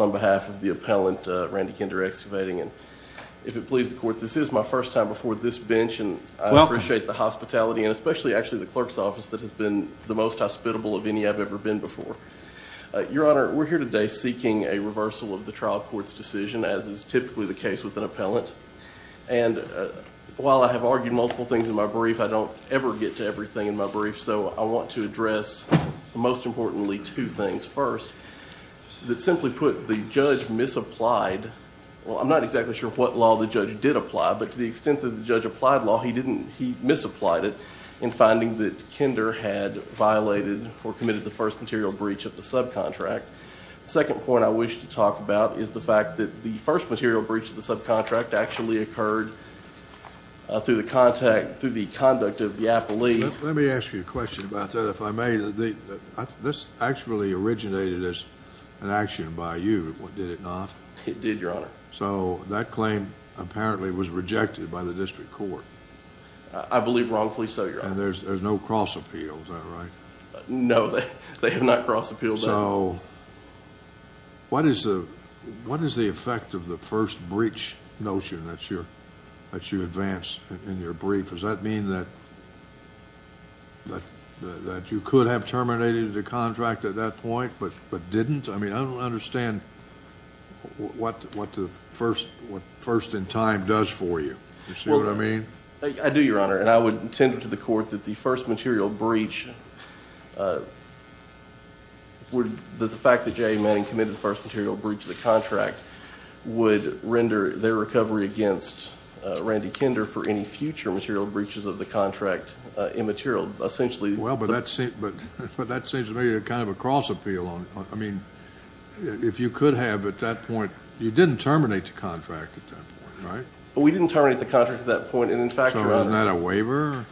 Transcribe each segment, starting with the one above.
On behalf of the appellant, Randy Kinder Excavating, and if it pleases the court, this is my first time before this bench, and I appreciate the hospitality, and especially, actually, the clerk's office that has been the most hospitable of any I've ever been before. Your Honor, we're here today seeking a reversal of the trial court's decision, as is typically the case with an appellant. And while I have argued multiple things in my brief, I don't ever get to everything in my brief, so I want to address, most importantly, two things. First, that simply put, the judge misapplied, well, I'm not exactly sure what law the judge did apply, but to the extent that the judge applied law, he misapplied it in finding that Kinder had violated or committed the first material breach of the subcontract. Second point I wish to talk about is the fact that the first material breach of the subcontract actually occurred through the conduct of the appellee. Let me ask you a question about that, if I may. This actually originated as an action by you, did it not? It did, Your Honor. So that claim, apparently, was rejected by the district court. I believe wrongfully so, Your Honor. And there's no cross appeal, is that right? No, they have not crossed appeal. So what is the effect of the first breach notion that you advance in your brief? Does that mean that you could have terminated the contract at that point, but didn't? I mean, I don't understand what the first in time does for you. You see what I mean? I do, Your Honor, and I would intend to the court that the first material breach would, that the fact that J.A. Manning committed the first material breach of the contract would render their recovery against Randy Kinder for any future material breaches of the contract immaterial. Essentially- Well, but that seems to me a kind of a cross appeal. I mean, if you could have at that point, you didn't terminate the contract at that point, right? We didn't terminate the contract at that point, and in fact, Your Honor- So isn't that a waiver?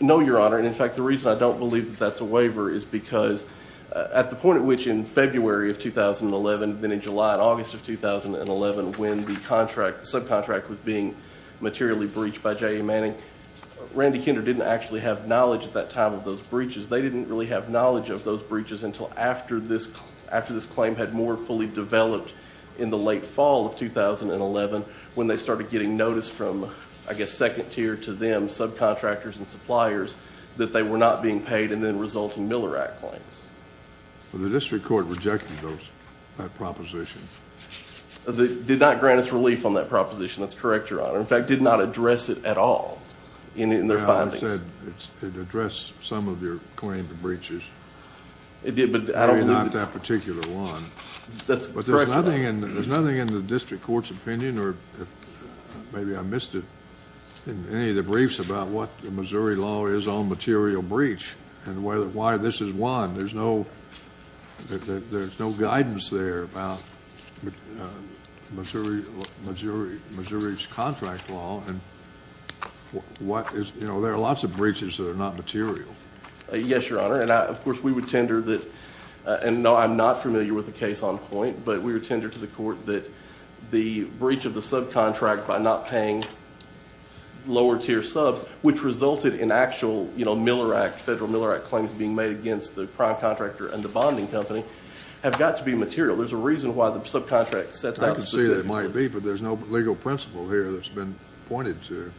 No, Your Honor. And in fact, the reason I don't believe that that's a waiver is because at the point at which in February of 2011, then in July and August of 2011, when the contract, the subcontract was being materially breached by J.A. Manning, Randy Kinder didn't actually have knowledge at that time of those breaches. They didn't really have knowledge of those breaches until after this claim had more fully developed in the late fall of 2011 when they started getting notice from, I guess, second tier to them, subcontractors and suppliers, that they were not being paid and then resulting Miller Act claims. Well, the district court rejected those, that proposition. They did not grant us relief on that proposition. That's correct, Your Honor. In fact, did not address it at all in their findings. Well, I said it addressed some of your claimed breaches. It did, but I don't believe- Maybe not that particular one. That's correct, Your Honor. But there's nothing in the district court's opinion or maybe I missed it in any of the briefs about what the Missouri law is on material breach and why this is one. There's no guidance there about Missouri's contract law and there are lots of breaches that are not material. Yes, Your Honor, and of course, we would tender that, and no, I'm not familiar with the case on point, but we would tender to the court that the breach of the subcontract by not paying lower tier subs, which resulted in actual, you know, Miller Act, federal Miller Act claims being made against the prime contractor and the bonding company have got to be material. There's a reason why the subcontract set that specific- I can see that might be, but there's no legal principle here that's been pointed to.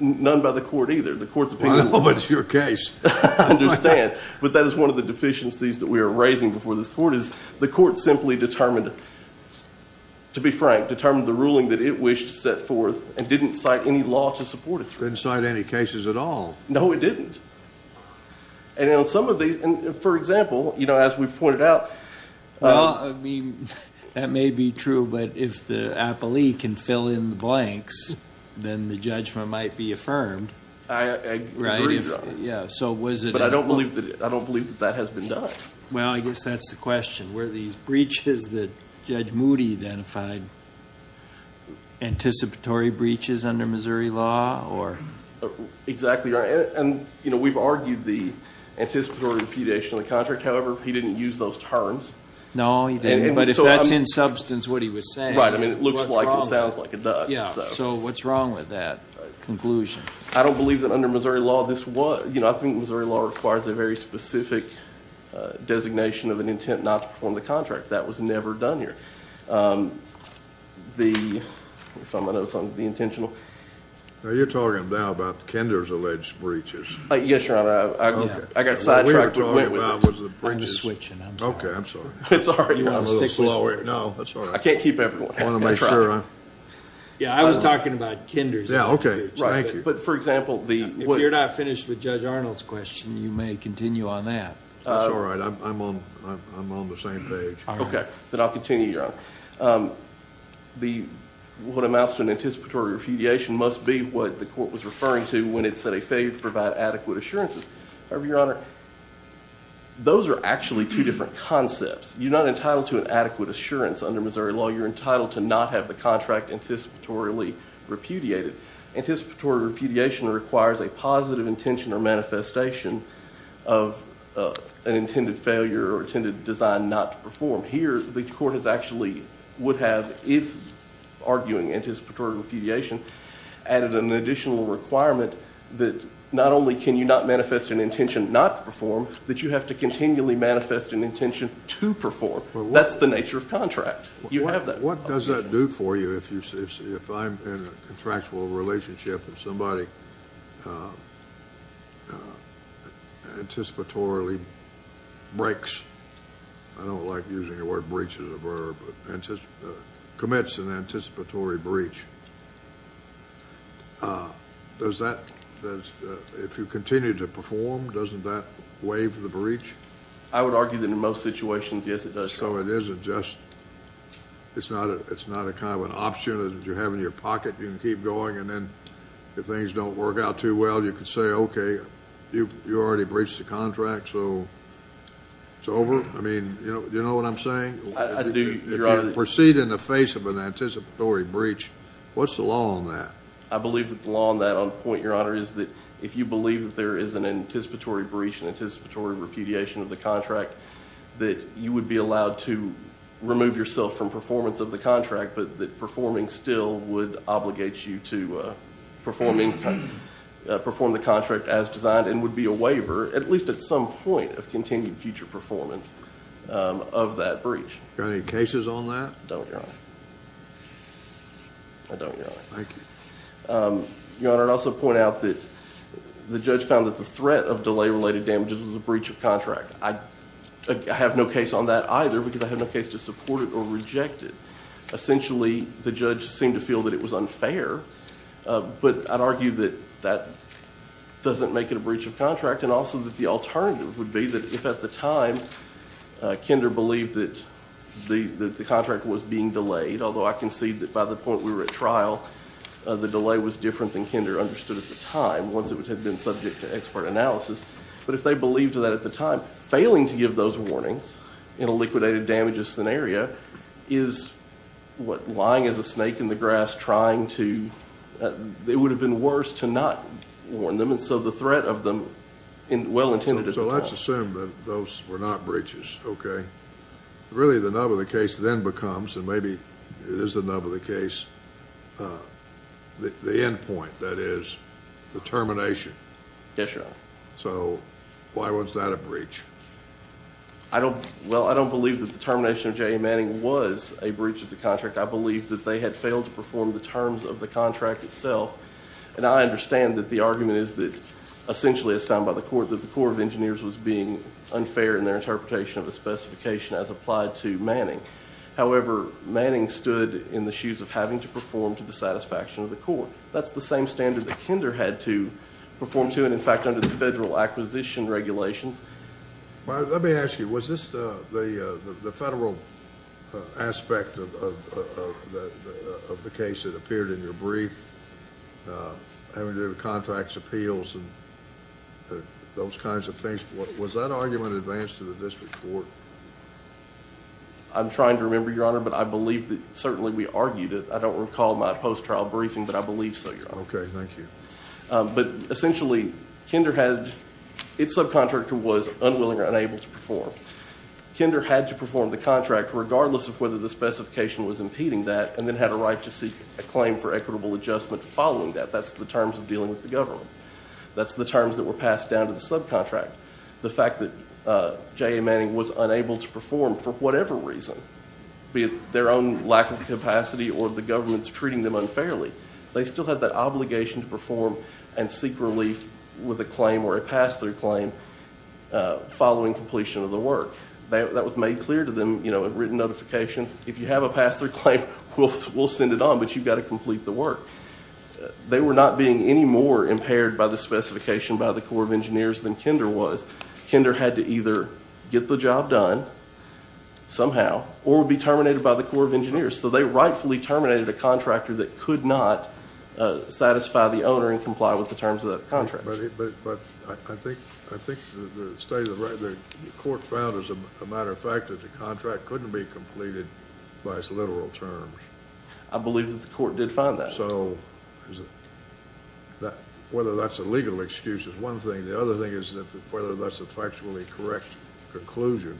None by the court either. The court's opinion- I know, but it's your case. I understand, but that is one of the deficiencies that we are raising before this court is the court simply determined, to be frank, determined the ruling that it wished to set forth and didn't cite any law to support it. It didn't cite any cases at all. No, it didn't, and on some of these, for example, you know, as we've pointed out- Well, I mean, that may be true, but if the appellee can fill in the blanks, then the judgment might be affirmed. I agree, Your Honor. Yeah, so was it- But I don't believe that that has been done. Well, I guess that's the question. Were these breaches that Judge Moody identified anticipatory breaches under Missouri law, or- Exactly, Your Honor, and you know, we've argued the anticipatory impedation of the contract. However, he didn't use those terms. No, he didn't, but if that's in substance what he was saying- Right, I mean, it looks like and sounds like it does. Yeah, so what's wrong with that conclusion? I don't believe that under Missouri law this was- You know, I think Missouri law requires a very specific designation of an intent not to perform the contract. That was never done here. The, if I'm not mistaken, the intentional- Now, you're talking now about Kender's alleged breaches. Yes, Your Honor, I got sidetracked and went with this. I'm just switching, I'm sorry. Okay, I'm sorry. It's all right, Your Honor, I'm a little slower. No, that's all right. I can't keep everyone. I want to make sure I'm- Yeah, I was talking about Kender's alleged breaches. Yeah, okay, thank you. But, for example, the- If you're not finished with Judge Arnold's question, you may continue on that. That's all right, I'm on the same page. Okay, then I'll continue, Your Honor. The, what amounts to an anticipatory repudiation must be what the court was referring to when it said a failure to provide adequate assurances. However, Your Honor, those are actually two different concepts. You're not entitled to an adequate assurance under Missouri law. You're entitled to not have the contract anticipatorily repudiated. Anticipatory repudiation requires a positive intention or manifestation of an intended failure or intended design not to perform. Here, the court has actually, would have, if arguing anticipatory repudiation, added an additional requirement that not only can you not manifest an intention not to perform, that you have to continually manifest an intention to perform. You have that obligation. What does that do for you if I'm in a contractual relationship and somebody anticipatorily breaks? I don't like using the word breach as a verb, but commits an anticipatory breach. Does that, if you continue to perform, doesn't that waive the breach? I would argue that in most situations, yes, it does. So it isn't just, it's not a kind of an option that you have in your pocket. You can keep going and then if things don't work out too well, you can say, okay, you already breached the contract, so it's over. I mean, do you know what I'm saying? I do, Your Honor. If you proceed in the face of an anticipatory breach, what's the law on that? I believe that the law on that on point, Your Honor, is that if you believe that there is an anticipatory breach and you're allowed to remove yourself from performance of the contract, but that performing still would obligate you to perform the contract as designed and would be a waiver, at least at some point, of continued future performance of that breach. Got any cases on that? Don't, Your Honor. I don't, Your Honor. Thank you. Your Honor, I'd also point out that the judge found that the threat of delay-related damages was a breach of contract. I have no case on that either, because I have no case to support it or reject it. Essentially, the judge seemed to feel that it was unfair, but I'd argue that that doesn't make it a breach of contract. And also that the alternative would be that if at the time, Kinder believed that the contract was being delayed, although I concede that by the point we were at trial, the delay was different than Kinder understood at the time once it had been subject to expert analysis. But if they believed that at the time, failing to give those warnings in a liquidated damages scenario is what lying as a snake in the grass trying to, it would have been worse to not warn them. And so the threat of them, well intended at the time. So let's assume that those were not breaches, okay? Really, the nub of the case then becomes, and maybe it is the nub of the case, the end point, that is, the termination. Yes, Your Honor. So, why was that a breach? Well, I don't believe that the termination of J.A. Manning was a breach of the contract. I believe that they had failed to perform the terms of the contract itself. And I understand that the argument is that essentially it's found by the court that the Corps of Engineers was being unfair in their interpretation of the specification as applied to Manning. However, Manning stood in the shoes of having to perform to the satisfaction of the court. That's the same standard that Kinder had to perform to, and in fact, under the federal acquisition regulations. Let me ask you, was this the federal aspect of the case that appeared in your brief? Having to do with contracts, appeals, and those kinds of things. Was that argument advanced to the district court? I'm trying to remember, Your Honor, but I believe that certainly we argued it. I don't recall my post-trial briefing, but I believe so, Your Honor. Okay, thank you. But essentially, Kinder had, its subcontractor was unwilling or unable to perform. Kinder had to perform the contract regardless of whether the specification was impeding that and then had a right to seek a claim for equitable adjustment following that. That's the terms of dealing with the government. That's the terms that were passed down to the subcontract. The fact that J.A. Manning was unable to perform for whatever reason, be it their own lack of capacity or the government's treating them unfairly. They still had that obligation to perform and seek relief with a claim or a pass-through claim following completion of the work. That was made clear to them in written notifications. If you have a pass-through claim, we'll send it on, but you've got to complete the work. They were not being any more impaired by the specification by the Corps of Engineers than Kinder was. Kinder had to either get the job done somehow or be terminated by the Corps of Engineers. So they rightfully terminated a contractor that could not satisfy the owner and comply with the terms of that contract. But I think the state of the court found, as a matter of fact, that the contract couldn't be completed by its literal terms. I believe that the court did find that. So whether that's a legal excuse is one thing. The other thing is whether that's a factually correct conclusion.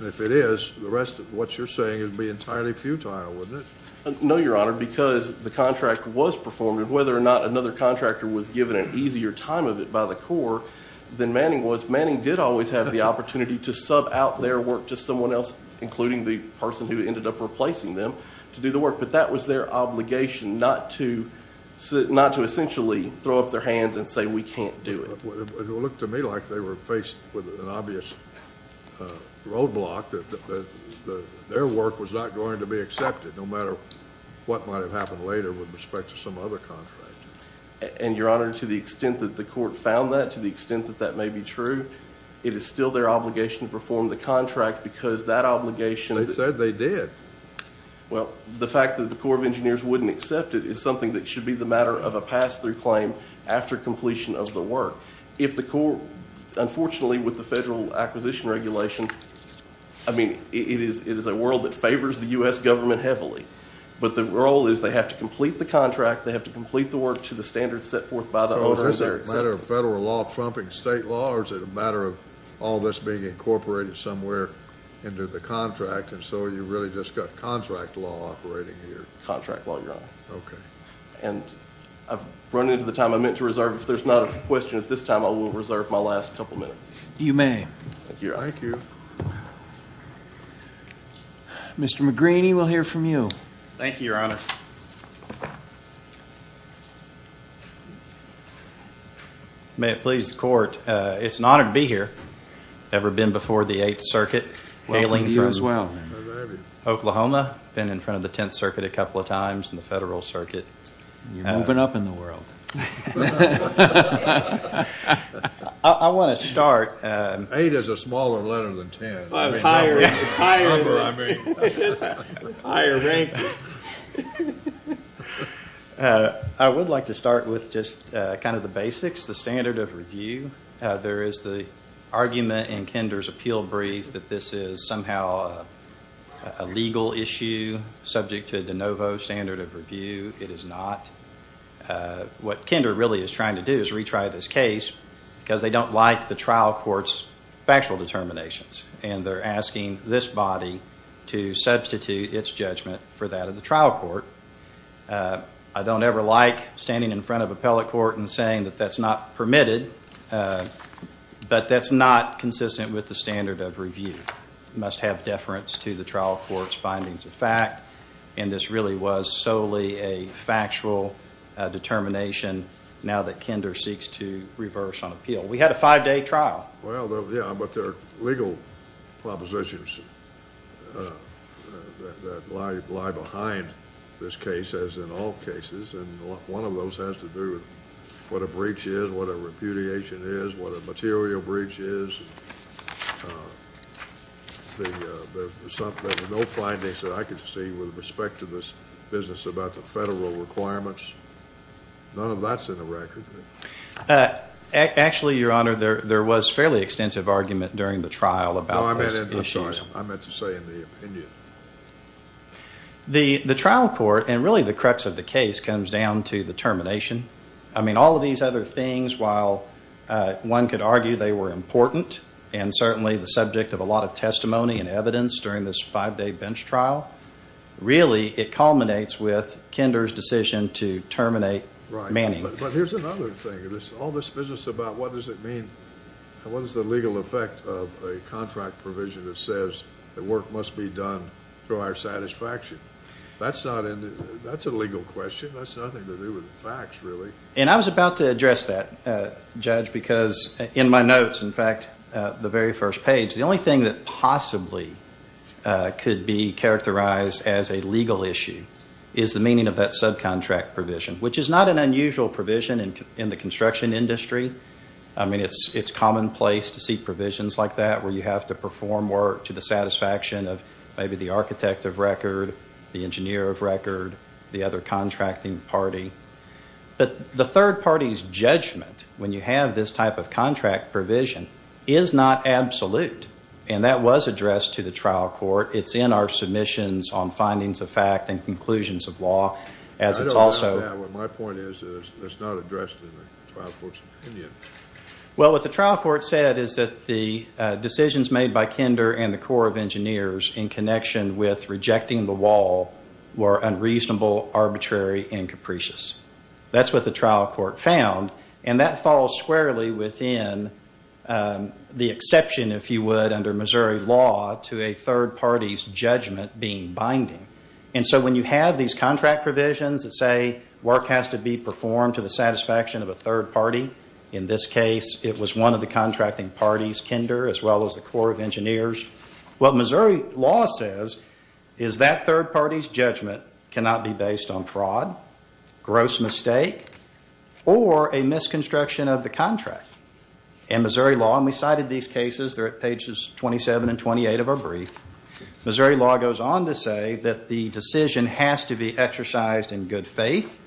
If it is, the rest of what you're saying would be entirely futile, wouldn't it? No, your honor, because the contract was performed. Whether or not another contractor was given an easier time of it by the Corps than Manning was, Manning did always have the opportunity to sub out their work to someone else, including the person who ended up replacing them, to do the work. But that was their obligation, not to essentially throw up their hands and say we can't do it. It looked to me like they were faced with an obvious roadblock, that their work was not going to be accepted, no matter what might have happened later with respect to some other contract. And your honor, to the extent that the court found that, to the extent that that may be true, it is still their obligation to perform the contract because that obligation- They said they did. Well, the fact that the Corps of Engineers wouldn't accept it is something that should be the matter of a pass through claim after completion of the work. If the court, unfortunately with the federal acquisition regulations, I mean, it is a world that favors the US government heavily. But the role is they have to complete the contract, they have to complete the work to the standards set forth by the owners- So is it a matter of federal law trumping state law, or is it a matter of all this being incorporated somewhere into the contract, and so you really just got contract law operating here? Contract law, your honor. Okay. And I've run into the time I meant to reserve. If there's not a question at this time, I will reserve my last couple minutes. You may. Thank you. Mr. McGreeny, we'll hear from you. Thank you, your honor. May it please the court, it's an honor to be here. Ever been before the Eighth Circuit, hailing from- Welcome to you as well. Oklahoma, been in front of the Tenth Circuit a couple of times, and the Federal Circuit. You're moving up in the world. I want to start- Eight is a smaller letter than ten. Well, it's higher. It's higher. Higher rank. I would like to start with just kind of the basics, the standard of review. There is the argument in Kinder's appeal brief that this is somehow a legal issue, subject to a de novo standard of review. It is not. What Kinder really is trying to do is retry this case, because they don't like the trial court's factual determinations, and they're asking this body to substitute its judgment for that of the trial court. I don't ever like standing in front of appellate court and saying that that's not permitted, but that's not consistent with the standard of review. It must have deference to the trial court's findings of fact, and this really was solely a factual determination, now that Kinder seeks to reverse on appeal. We had a five-day trial. Well, yeah, but there are legal propositions that lie behind this case, as in all cases, and one of those has to do with what a breach is, what a repudiation is, what a material breach is. There were no findings that I could see with respect to this business about the federal requirements. None of that's in the record. Actually, Your Honor, there was fairly extensive argument during the trial about this issue. I meant to say in the opinion. The trial court, and really the crux of the case, comes down to the termination. I mean, all of these other things, while one could argue they were important, and certainly the subject of a lot of testimony and evidence during this five-day bench trial, really it culminates with Kinder's decision to terminate Manning. Right, but here's another thing. All this business about what does it mean, through our satisfaction, that's a legal question. That's nothing to do with the facts, really. And I was about to address that, Judge, because in my notes, in fact, the very first page, the only thing that possibly could be characterized as a legal issue is the meaning of that subcontract provision, which is not an unusual provision in the construction industry. I mean, it's commonplace to see provisions like that, where you have to perform work to the satisfaction of maybe the architect of record, the engineer of record, the other contracting party. But the third party's judgment, when you have this type of contract provision, is not absolute. And that was addressed to the trial court. It's in our submissions on findings of fact and conclusions of law, as it's also- I don't understand that. My point is that it's not addressed in the trial court's opinion. Well, what the trial court said is that the decisions made by Kinder and the Corps of Engineers in connection with rejecting the wall were unreasonable, arbitrary, and capricious. That's what the trial court found. And that falls squarely within the exception, if you would, under Missouri law to a third party's judgment being binding. And so when you have these contract provisions that say work has to be performed to the satisfaction of a third party, in this case, it was one of the contracting parties, Kinder, as well as the Corps of Engineers. What Missouri law says is that third party's judgment cannot be based on fraud, gross mistake, or a misconstruction of the contract. In Missouri law, and we cited these cases, they're at pages 27 and 28 of our brief, Missouri law goes on to say that the decision has to be exercised in good faith,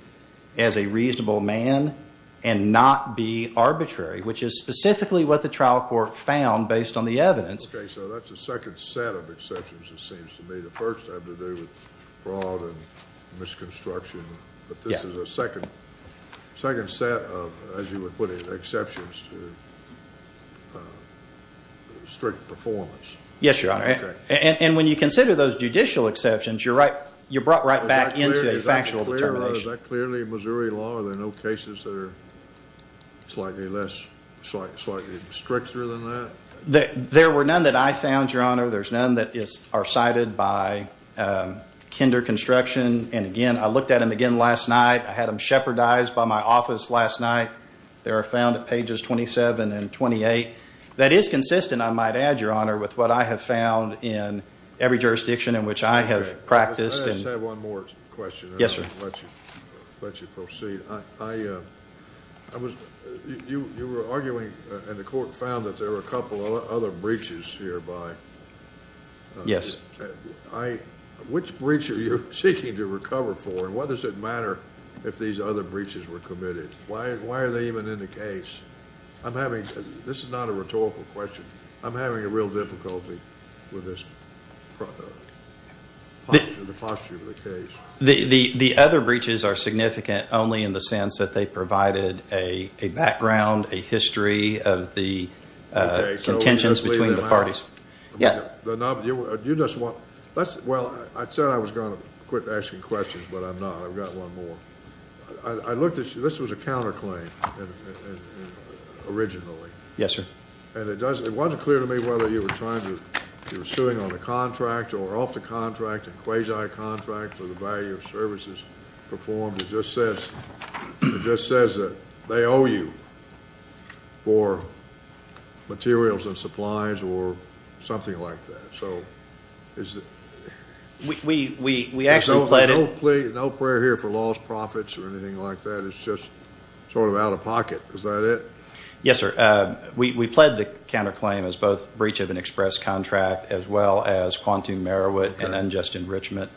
as a reasonable man, and not be arbitrary, which is specifically what the trial court found based on the evidence. Okay, so that's a second set of exceptions, it seems to me. The first had to do with fraud and misconstruction. But this is a second set of, as you would put it, exceptions to strict performance. Yes, Your Honor. And when you consider those judicial exceptions, you're right, you're brought right back into a factual determination. But is that clearly Missouri law? Are there no cases that are slightly less, slightly stricter than that? There were none that I found, Your Honor. There's none that are cited by Kinder Construction. And again, I looked at them again last night. I had them shepherdized by my office last night. They are found at pages 27 and 28. That is consistent, I might add, Your Honor, with what I have found in every jurisdiction in which I have practiced. I just have one more question. Yes, sir. I'll let you proceed. You were arguing, and the court found that there were a couple of other breaches hereby. Yes. Which breach are you seeking to recover for, and what does it matter if these other breaches were committed? Why are they even in the case? I'm having, this is not a rhetorical question. I'm having a real difficulty with this. The posture of the case. The other breaches are significant only in the sense that they provided a background, a history of the contentions between the parties. Yeah. You just want, well, I said I was going to quit asking questions, but I'm not. I've got one more. I looked at you, this was a counterclaim originally. Yes, sir. And it wasn't clear to me whether you were trying to, you were suing on a contract or off the contract, a quasi-contract for the value of services performed, it just says, it just says that they owe you. For materials and supplies or something like that. So, is it? We, we, we, we actually pledged. No, no prayer here for lost profits or anything like that. It's just sort of out of pocket. Is that it? Yes, sir. We, we pled the counterclaim as both breach of an express contract as well as quantum merit and unjust enrichment.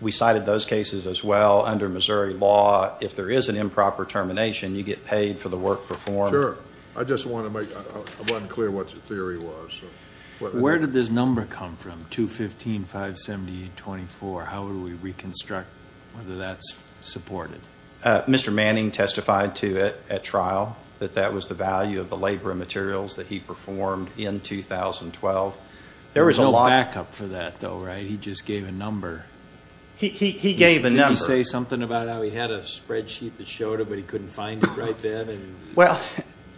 We cited those cases as well under Missouri law. If there is an improper termination, you get paid for the work performed. Sure. I just want to make, I'm unclear what your theory was. Where did this number come from, 215-578-24? How do we reconstruct whether that's supported? Mr. Manning testified to it at trial, that that was the value of the labor and materials that he performed in 2012. There was a lot- There was no backup for that, though, right? He just gave a number. He, he, he gave a number. Did he say something about how he had a spreadsheet that showed him, but he couldn't find it right then? Well,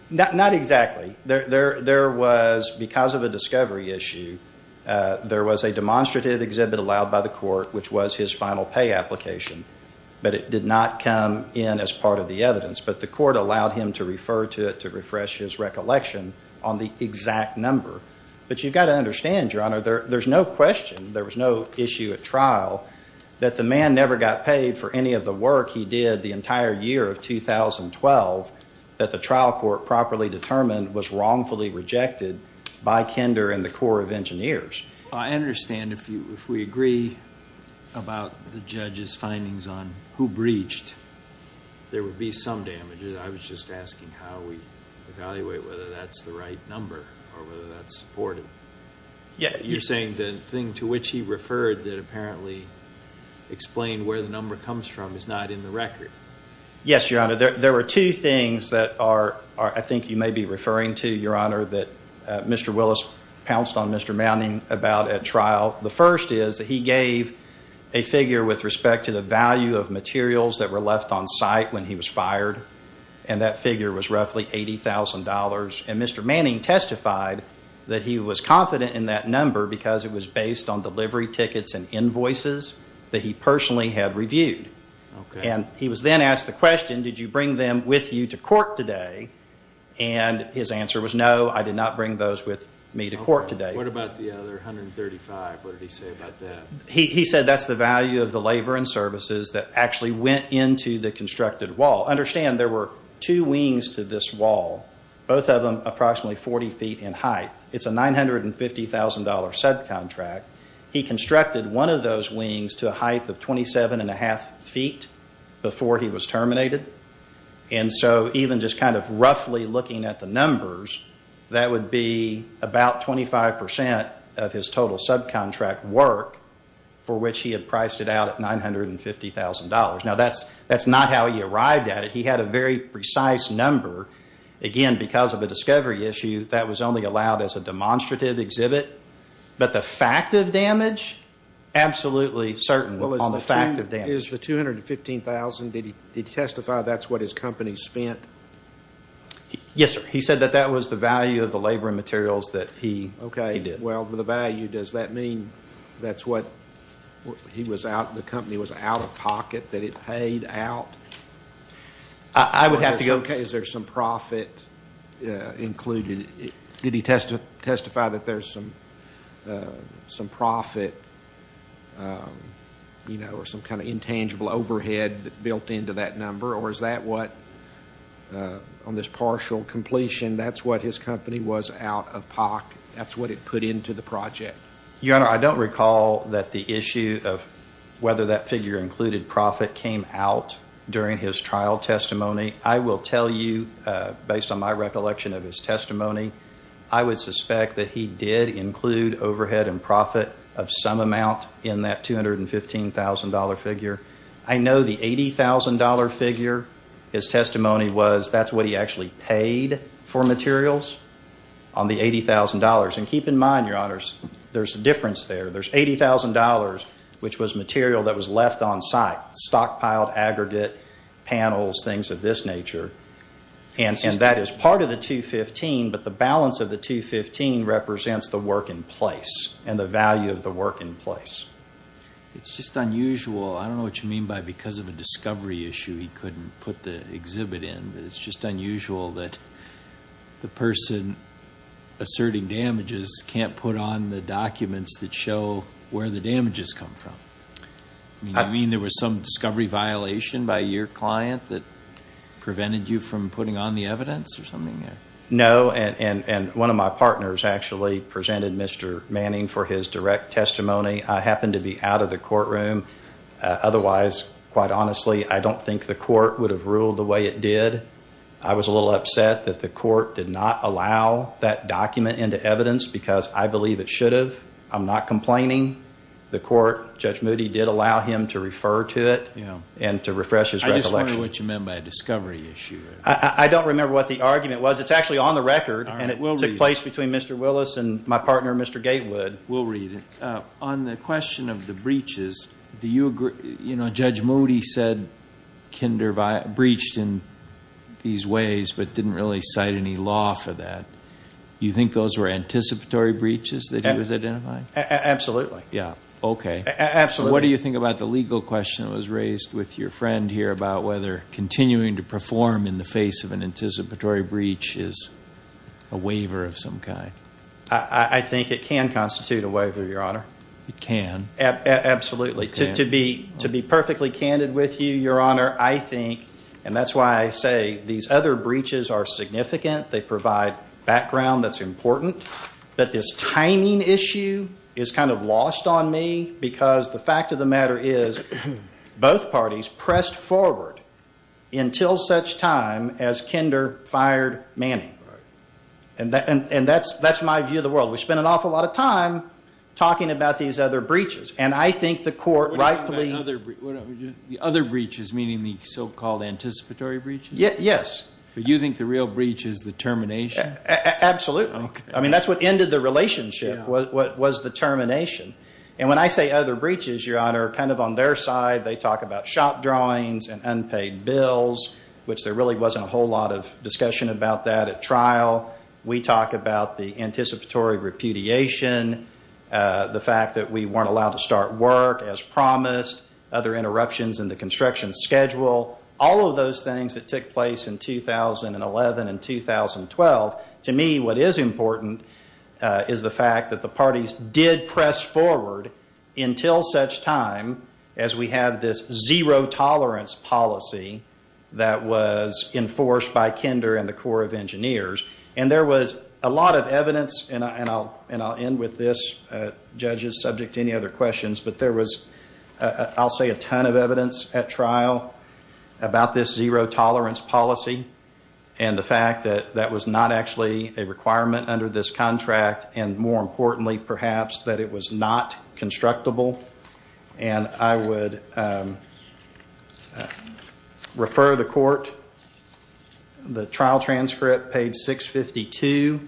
not, not exactly. There, there, there was, because of a discovery issue, there was a demonstrative exhibit allowed by the court, which was his final pay application. But it did not come in as part of the evidence, but the court allowed him to refer to it to refresh his recollection on the exact number, but you've got to understand, your honor, there, there's no question, there was no issue at trial, that the man never got paid for any of the work he did the entire year of 2012, that the trial court properly determined was wrongfully rejected by Kinder and the Corps of Engineers. I understand if you, if we agree about the judge's findings on who breached, there would be some damages. I was just asking how we evaluate whether that's the right number or whether that's supported. Yeah. You're saying the thing to which he referred that apparently explained where the number comes from is not in the record. Yes, your honor. There, there were two things that are, are, I think you may be referring to, your honor, that Mr. Willis pounced on Mr. Manning about at trial. The first is that he gave a figure with respect to the value of materials that were left on site when he was fired. And that figure was roughly $80,000. And Mr. Manning testified that he was confident in that number because it was based on delivery tickets and invoices that he personally had reviewed. And he was then asked the question, did you bring them with you to court today? And his answer was, no, I did not bring those with me to court today. What about the other 135, what did he say about that? He, he said that's the value of the labor and services that actually went into the constructed wall. Understand there were two wings to this wall, both of them approximately 40 feet in height. It's a $950,000 subcontract. He constructed one of those wings to a height of 27 and a half feet before he was terminated. And so even just kind of roughly looking at the numbers, that would be about 25% of his total subcontract work, for which he had priced it out at $950,000. Now that's, that's not how he arrived at it. He had a very precise number. Again, because of a discovery issue, that was only allowed as a demonstrative exhibit. But the fact of damage, absolutely certain on the fact of damage. Is the $215,000, did he testify that's what his company spent? Yes, sir. He said that that was the value of the labor and materials that he did. Okay, well, the value, does that mean that's what he was out, the company was out of pocket, that it paid out? I would have to go, okay, is there some profit included? Did he testify that there's some, some profit, you know, or some kind of intangible overhead built into that number? Or is that what, on this partial completion, that's what his company was out of pocket? That's what it put into the project? Your Honor, I don't recall that the issue of whether that figure included profit came out during his trial testimony. I will tell you, based on my recollection of his testimony, I would suspect that he did include overhead and I know the $80,000 figure, his testimony was, that's what he actually paid for materials on the $80,000. And keep in mind, Your Honors, there's a difference there. There's $80,000, which was material that was left on site, stockpiled aggregate panels, things of this nature. And that is part of the $215,000, but the balance of the $215,000 It's just unusual, I don't know what you mean by because of a discovery issue, he couldn't put the exhibit in, but it's just unusual that the person asserting damages can't put on the documents that show where the damages come from. I mean, there was some discovery violation by your client that prevented you from putting on the evidence or something? No, and one of my partners actually presented Mr. Manning for his direct testimony. I happened to be out of the courtroom. Otherwise, quite honestly, I don't think the court would have ruled the way it did. I was a little upset that the court did not allow that document into evidence because I believe it should have. I'm not complaining. The court, Judge Moody, did allow him to refer to it and to refresh his recollection. I just wonder what you meant by a discovery issue. I don't remember what the argument was. It's actually on the record and it took place between Mr. Willis and my partner, Mr. Gatewood. We'll read it. On the question of the breaches, Judge Moody said Kinder breached in these ways, but didn't really cite any law for that. You think those were anticipatory breaches that he was identifying? Absolutely. Yeah, OK. Absolutely. What do you think about the legal question that was raised with your friend here about whether continuing to perform in the face of an anticipatory breach is a waiver of some kind? I think it can constitute a waiver, Your Honor. It can. Absolutely. To be perfectly candid with you, Your Honor, I think, and that's why I say these other breaches are significant. They provide background that's important. But this timing issue is kind of lost on me because the fact of the matter is both parties pressed forward until such time as Kinder fired Manning. And that's my view of the world. We spend an awful lot of time talking about these other breaches, and I think the court rightfully- What about the other breaches, meaning the so-called anticipatory breaches? Yes. But you think the real breach is the termination? Absolutely. I mean, that's what ended the relationship was the termination. And when I say other breaches, Your Honor, kind of on their side, they talk about shop drawings and unpaid bills, which there really wasn't a whole lot of discussion about that. At trial, we talk about the anticipatory repudiation, the fact that we weren't allowed to start work as promised, other interruptions in the construction schedule, all of those things that took place in 2011 and 2012. To me, what is important is the fact that the parties did press forward until such time as we have this zero tolerance policy that was enforced by Kinder and the Corps of Engineers. And there was a lot of evidence, and I'll end with this. Judges, subject to any other questions, but there was, I'll say, a ton of evidence at trial about this zero tolerance policy and the fact that that was not actually a requirement under this contract, and more importantly, perhaps, that it was not constructible. And I would refer the court the trial transcript, page 652,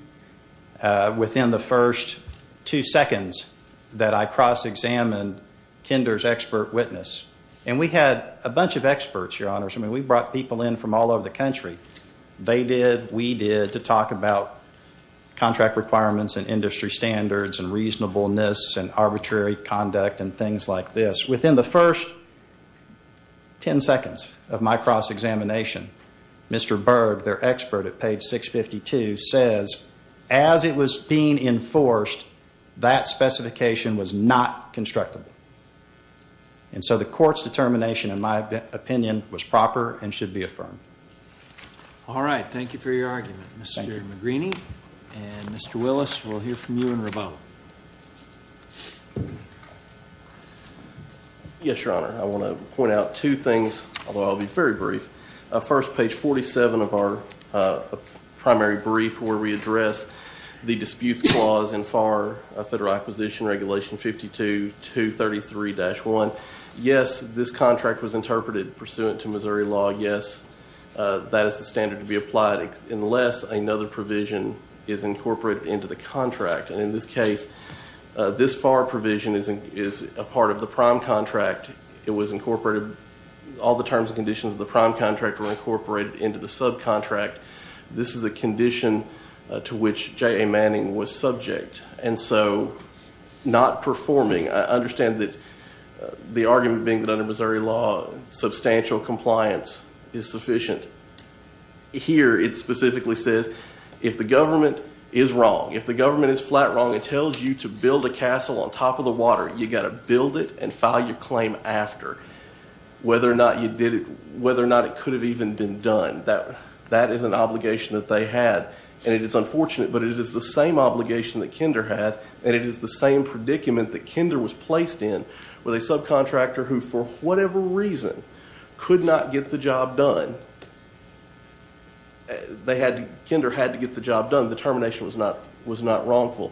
within the first two seconds that I cross-examined Kinder's expert witness. And we had a bunch of experts, Your Honors. I mean, we brought people in from all over the country. They did, we did, to talk about contract requirements, and industry standards, and reasonableness, and arbitrary conduct, and things like this. Within the first 10 seconds of my cross-examination, Mr. Berg, their expert at page 652, says, as it was being enforced, that specification was not constructible. And so the court's determination, in my opinion, was proper and should be affirmed. All right, thank you for your argument, Mr. McGreeny. And Mr. Willis, we'll hear from you in rebuttal. Yes, Your Honor. I want to point out two things, although I'll be very brief. First, page 47 of our primary brief, where we address the disputes clause in FAR, Federal Acquisition Regulation 52-233-1. Yes, this contract was interpreted pursuant to Missouri law. Yes, that is the standard to be applied, unless another provision is incorporated into the contract. And in this case, this FAR provision is a part of the prime contract. It was incorporated. All the terms and conditions of the prime contract were incorporated into the subcontract. This is a condition to which J.A. Manning was subject, and so not performing. I understand that the argument being that under Missouri law, substantial compliance is sufficient. Here, it specifically says, if the government is wrong, if the government is flat wrong and tells you to build a castle on top of the water, you've got to build it and file your claim after, whether or not it could have even been done. That is an obligation that they had. And it is unfortunate, but it is the same obligation that Kinder had, and it is the same predicament that Kinder was placed in, with a subcontractor who, for whatever reason, could not get the job done. Kinder had to get the job done. The termination was not wrongful.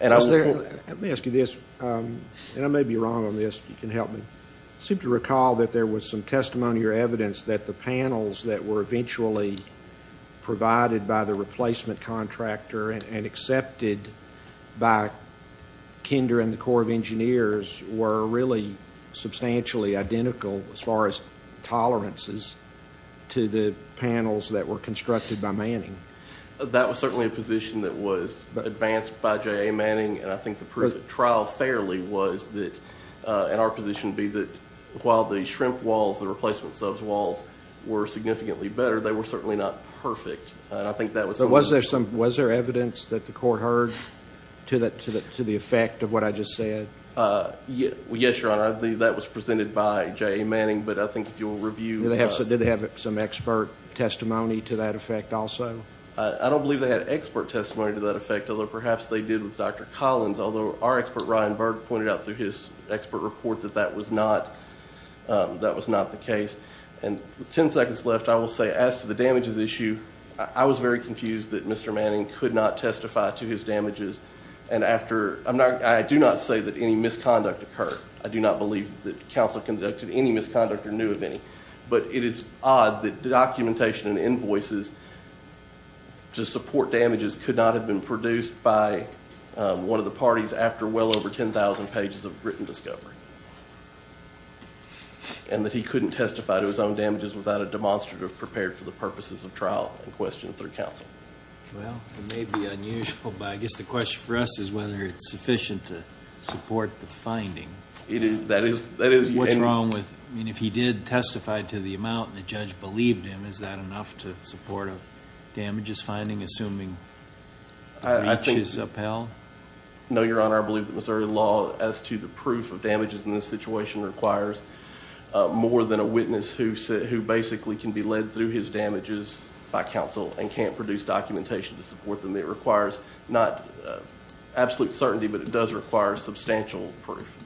And I was there. Let me ask you this, and I may be wrong on this. You can help me. I seem to recall that there was some testimony or evidence that the panels that were eventually provided by the replacement contractor and accepted by Kinder and the Corps of Engineers were really substantially identical, as far as tolerances, to the panels that were constructed by Manning. That was certainly a position that was advanced by J.A. Manning, and I think the proof of trial, fairly, was that, in our position, be that while the shrimp walls, the replacement sub's walls, were significantly better, they were certainly not perfect. And I think that was something that- Was there evidence that the court heard to the effect of what I just said? Yes, Your Honor. That was presented by J.A. Manning, but I think if you'll review- Did they have some expert testimony to that effect, also? I don't believe they had expert testimony to that effect, although perhaps they did with Dr. Collins. Although our expert, Ryan Berg, pointed out through his expert report that that was not the case. And with 10 seconds left, I will say as to the damages issue, I was very confused that Mr. Manning could not And after- I do not say that any misconduct occurred. I do not believe that counsel conducted any misconduct or knew of any. But it is odd that documentation and invoices to support damages could not have been produced by one of the parties after well over 10,000 pages of written discovery. And that he couldn't testify to his own damages without a demonstrative prepared for the purposes of trial in question through counsel. Well, it may be unusual, but I guess the question for us is whether it's sufficient to support the finding. It is. That is- What's wrong with- I mean, if he did testify to the amount and the judge believed him, is that enough to support a damages finding, assuming the breach is upheld? No, Your Honor. I believe that Missouri law, as to the proof of damages in this situation, requires more than a witness who basically can be led through his damages by counsel and can't produce documentation to support them. It requires not absolute certainty, but it does require substantial proof.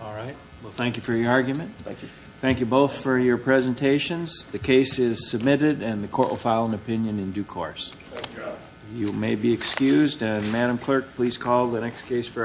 All right. Well, thank you for your argument. Thank you both for your presentations. The case is submitted, and the court will file an opinion in due course. And Madam Clerk, please call the next case for action.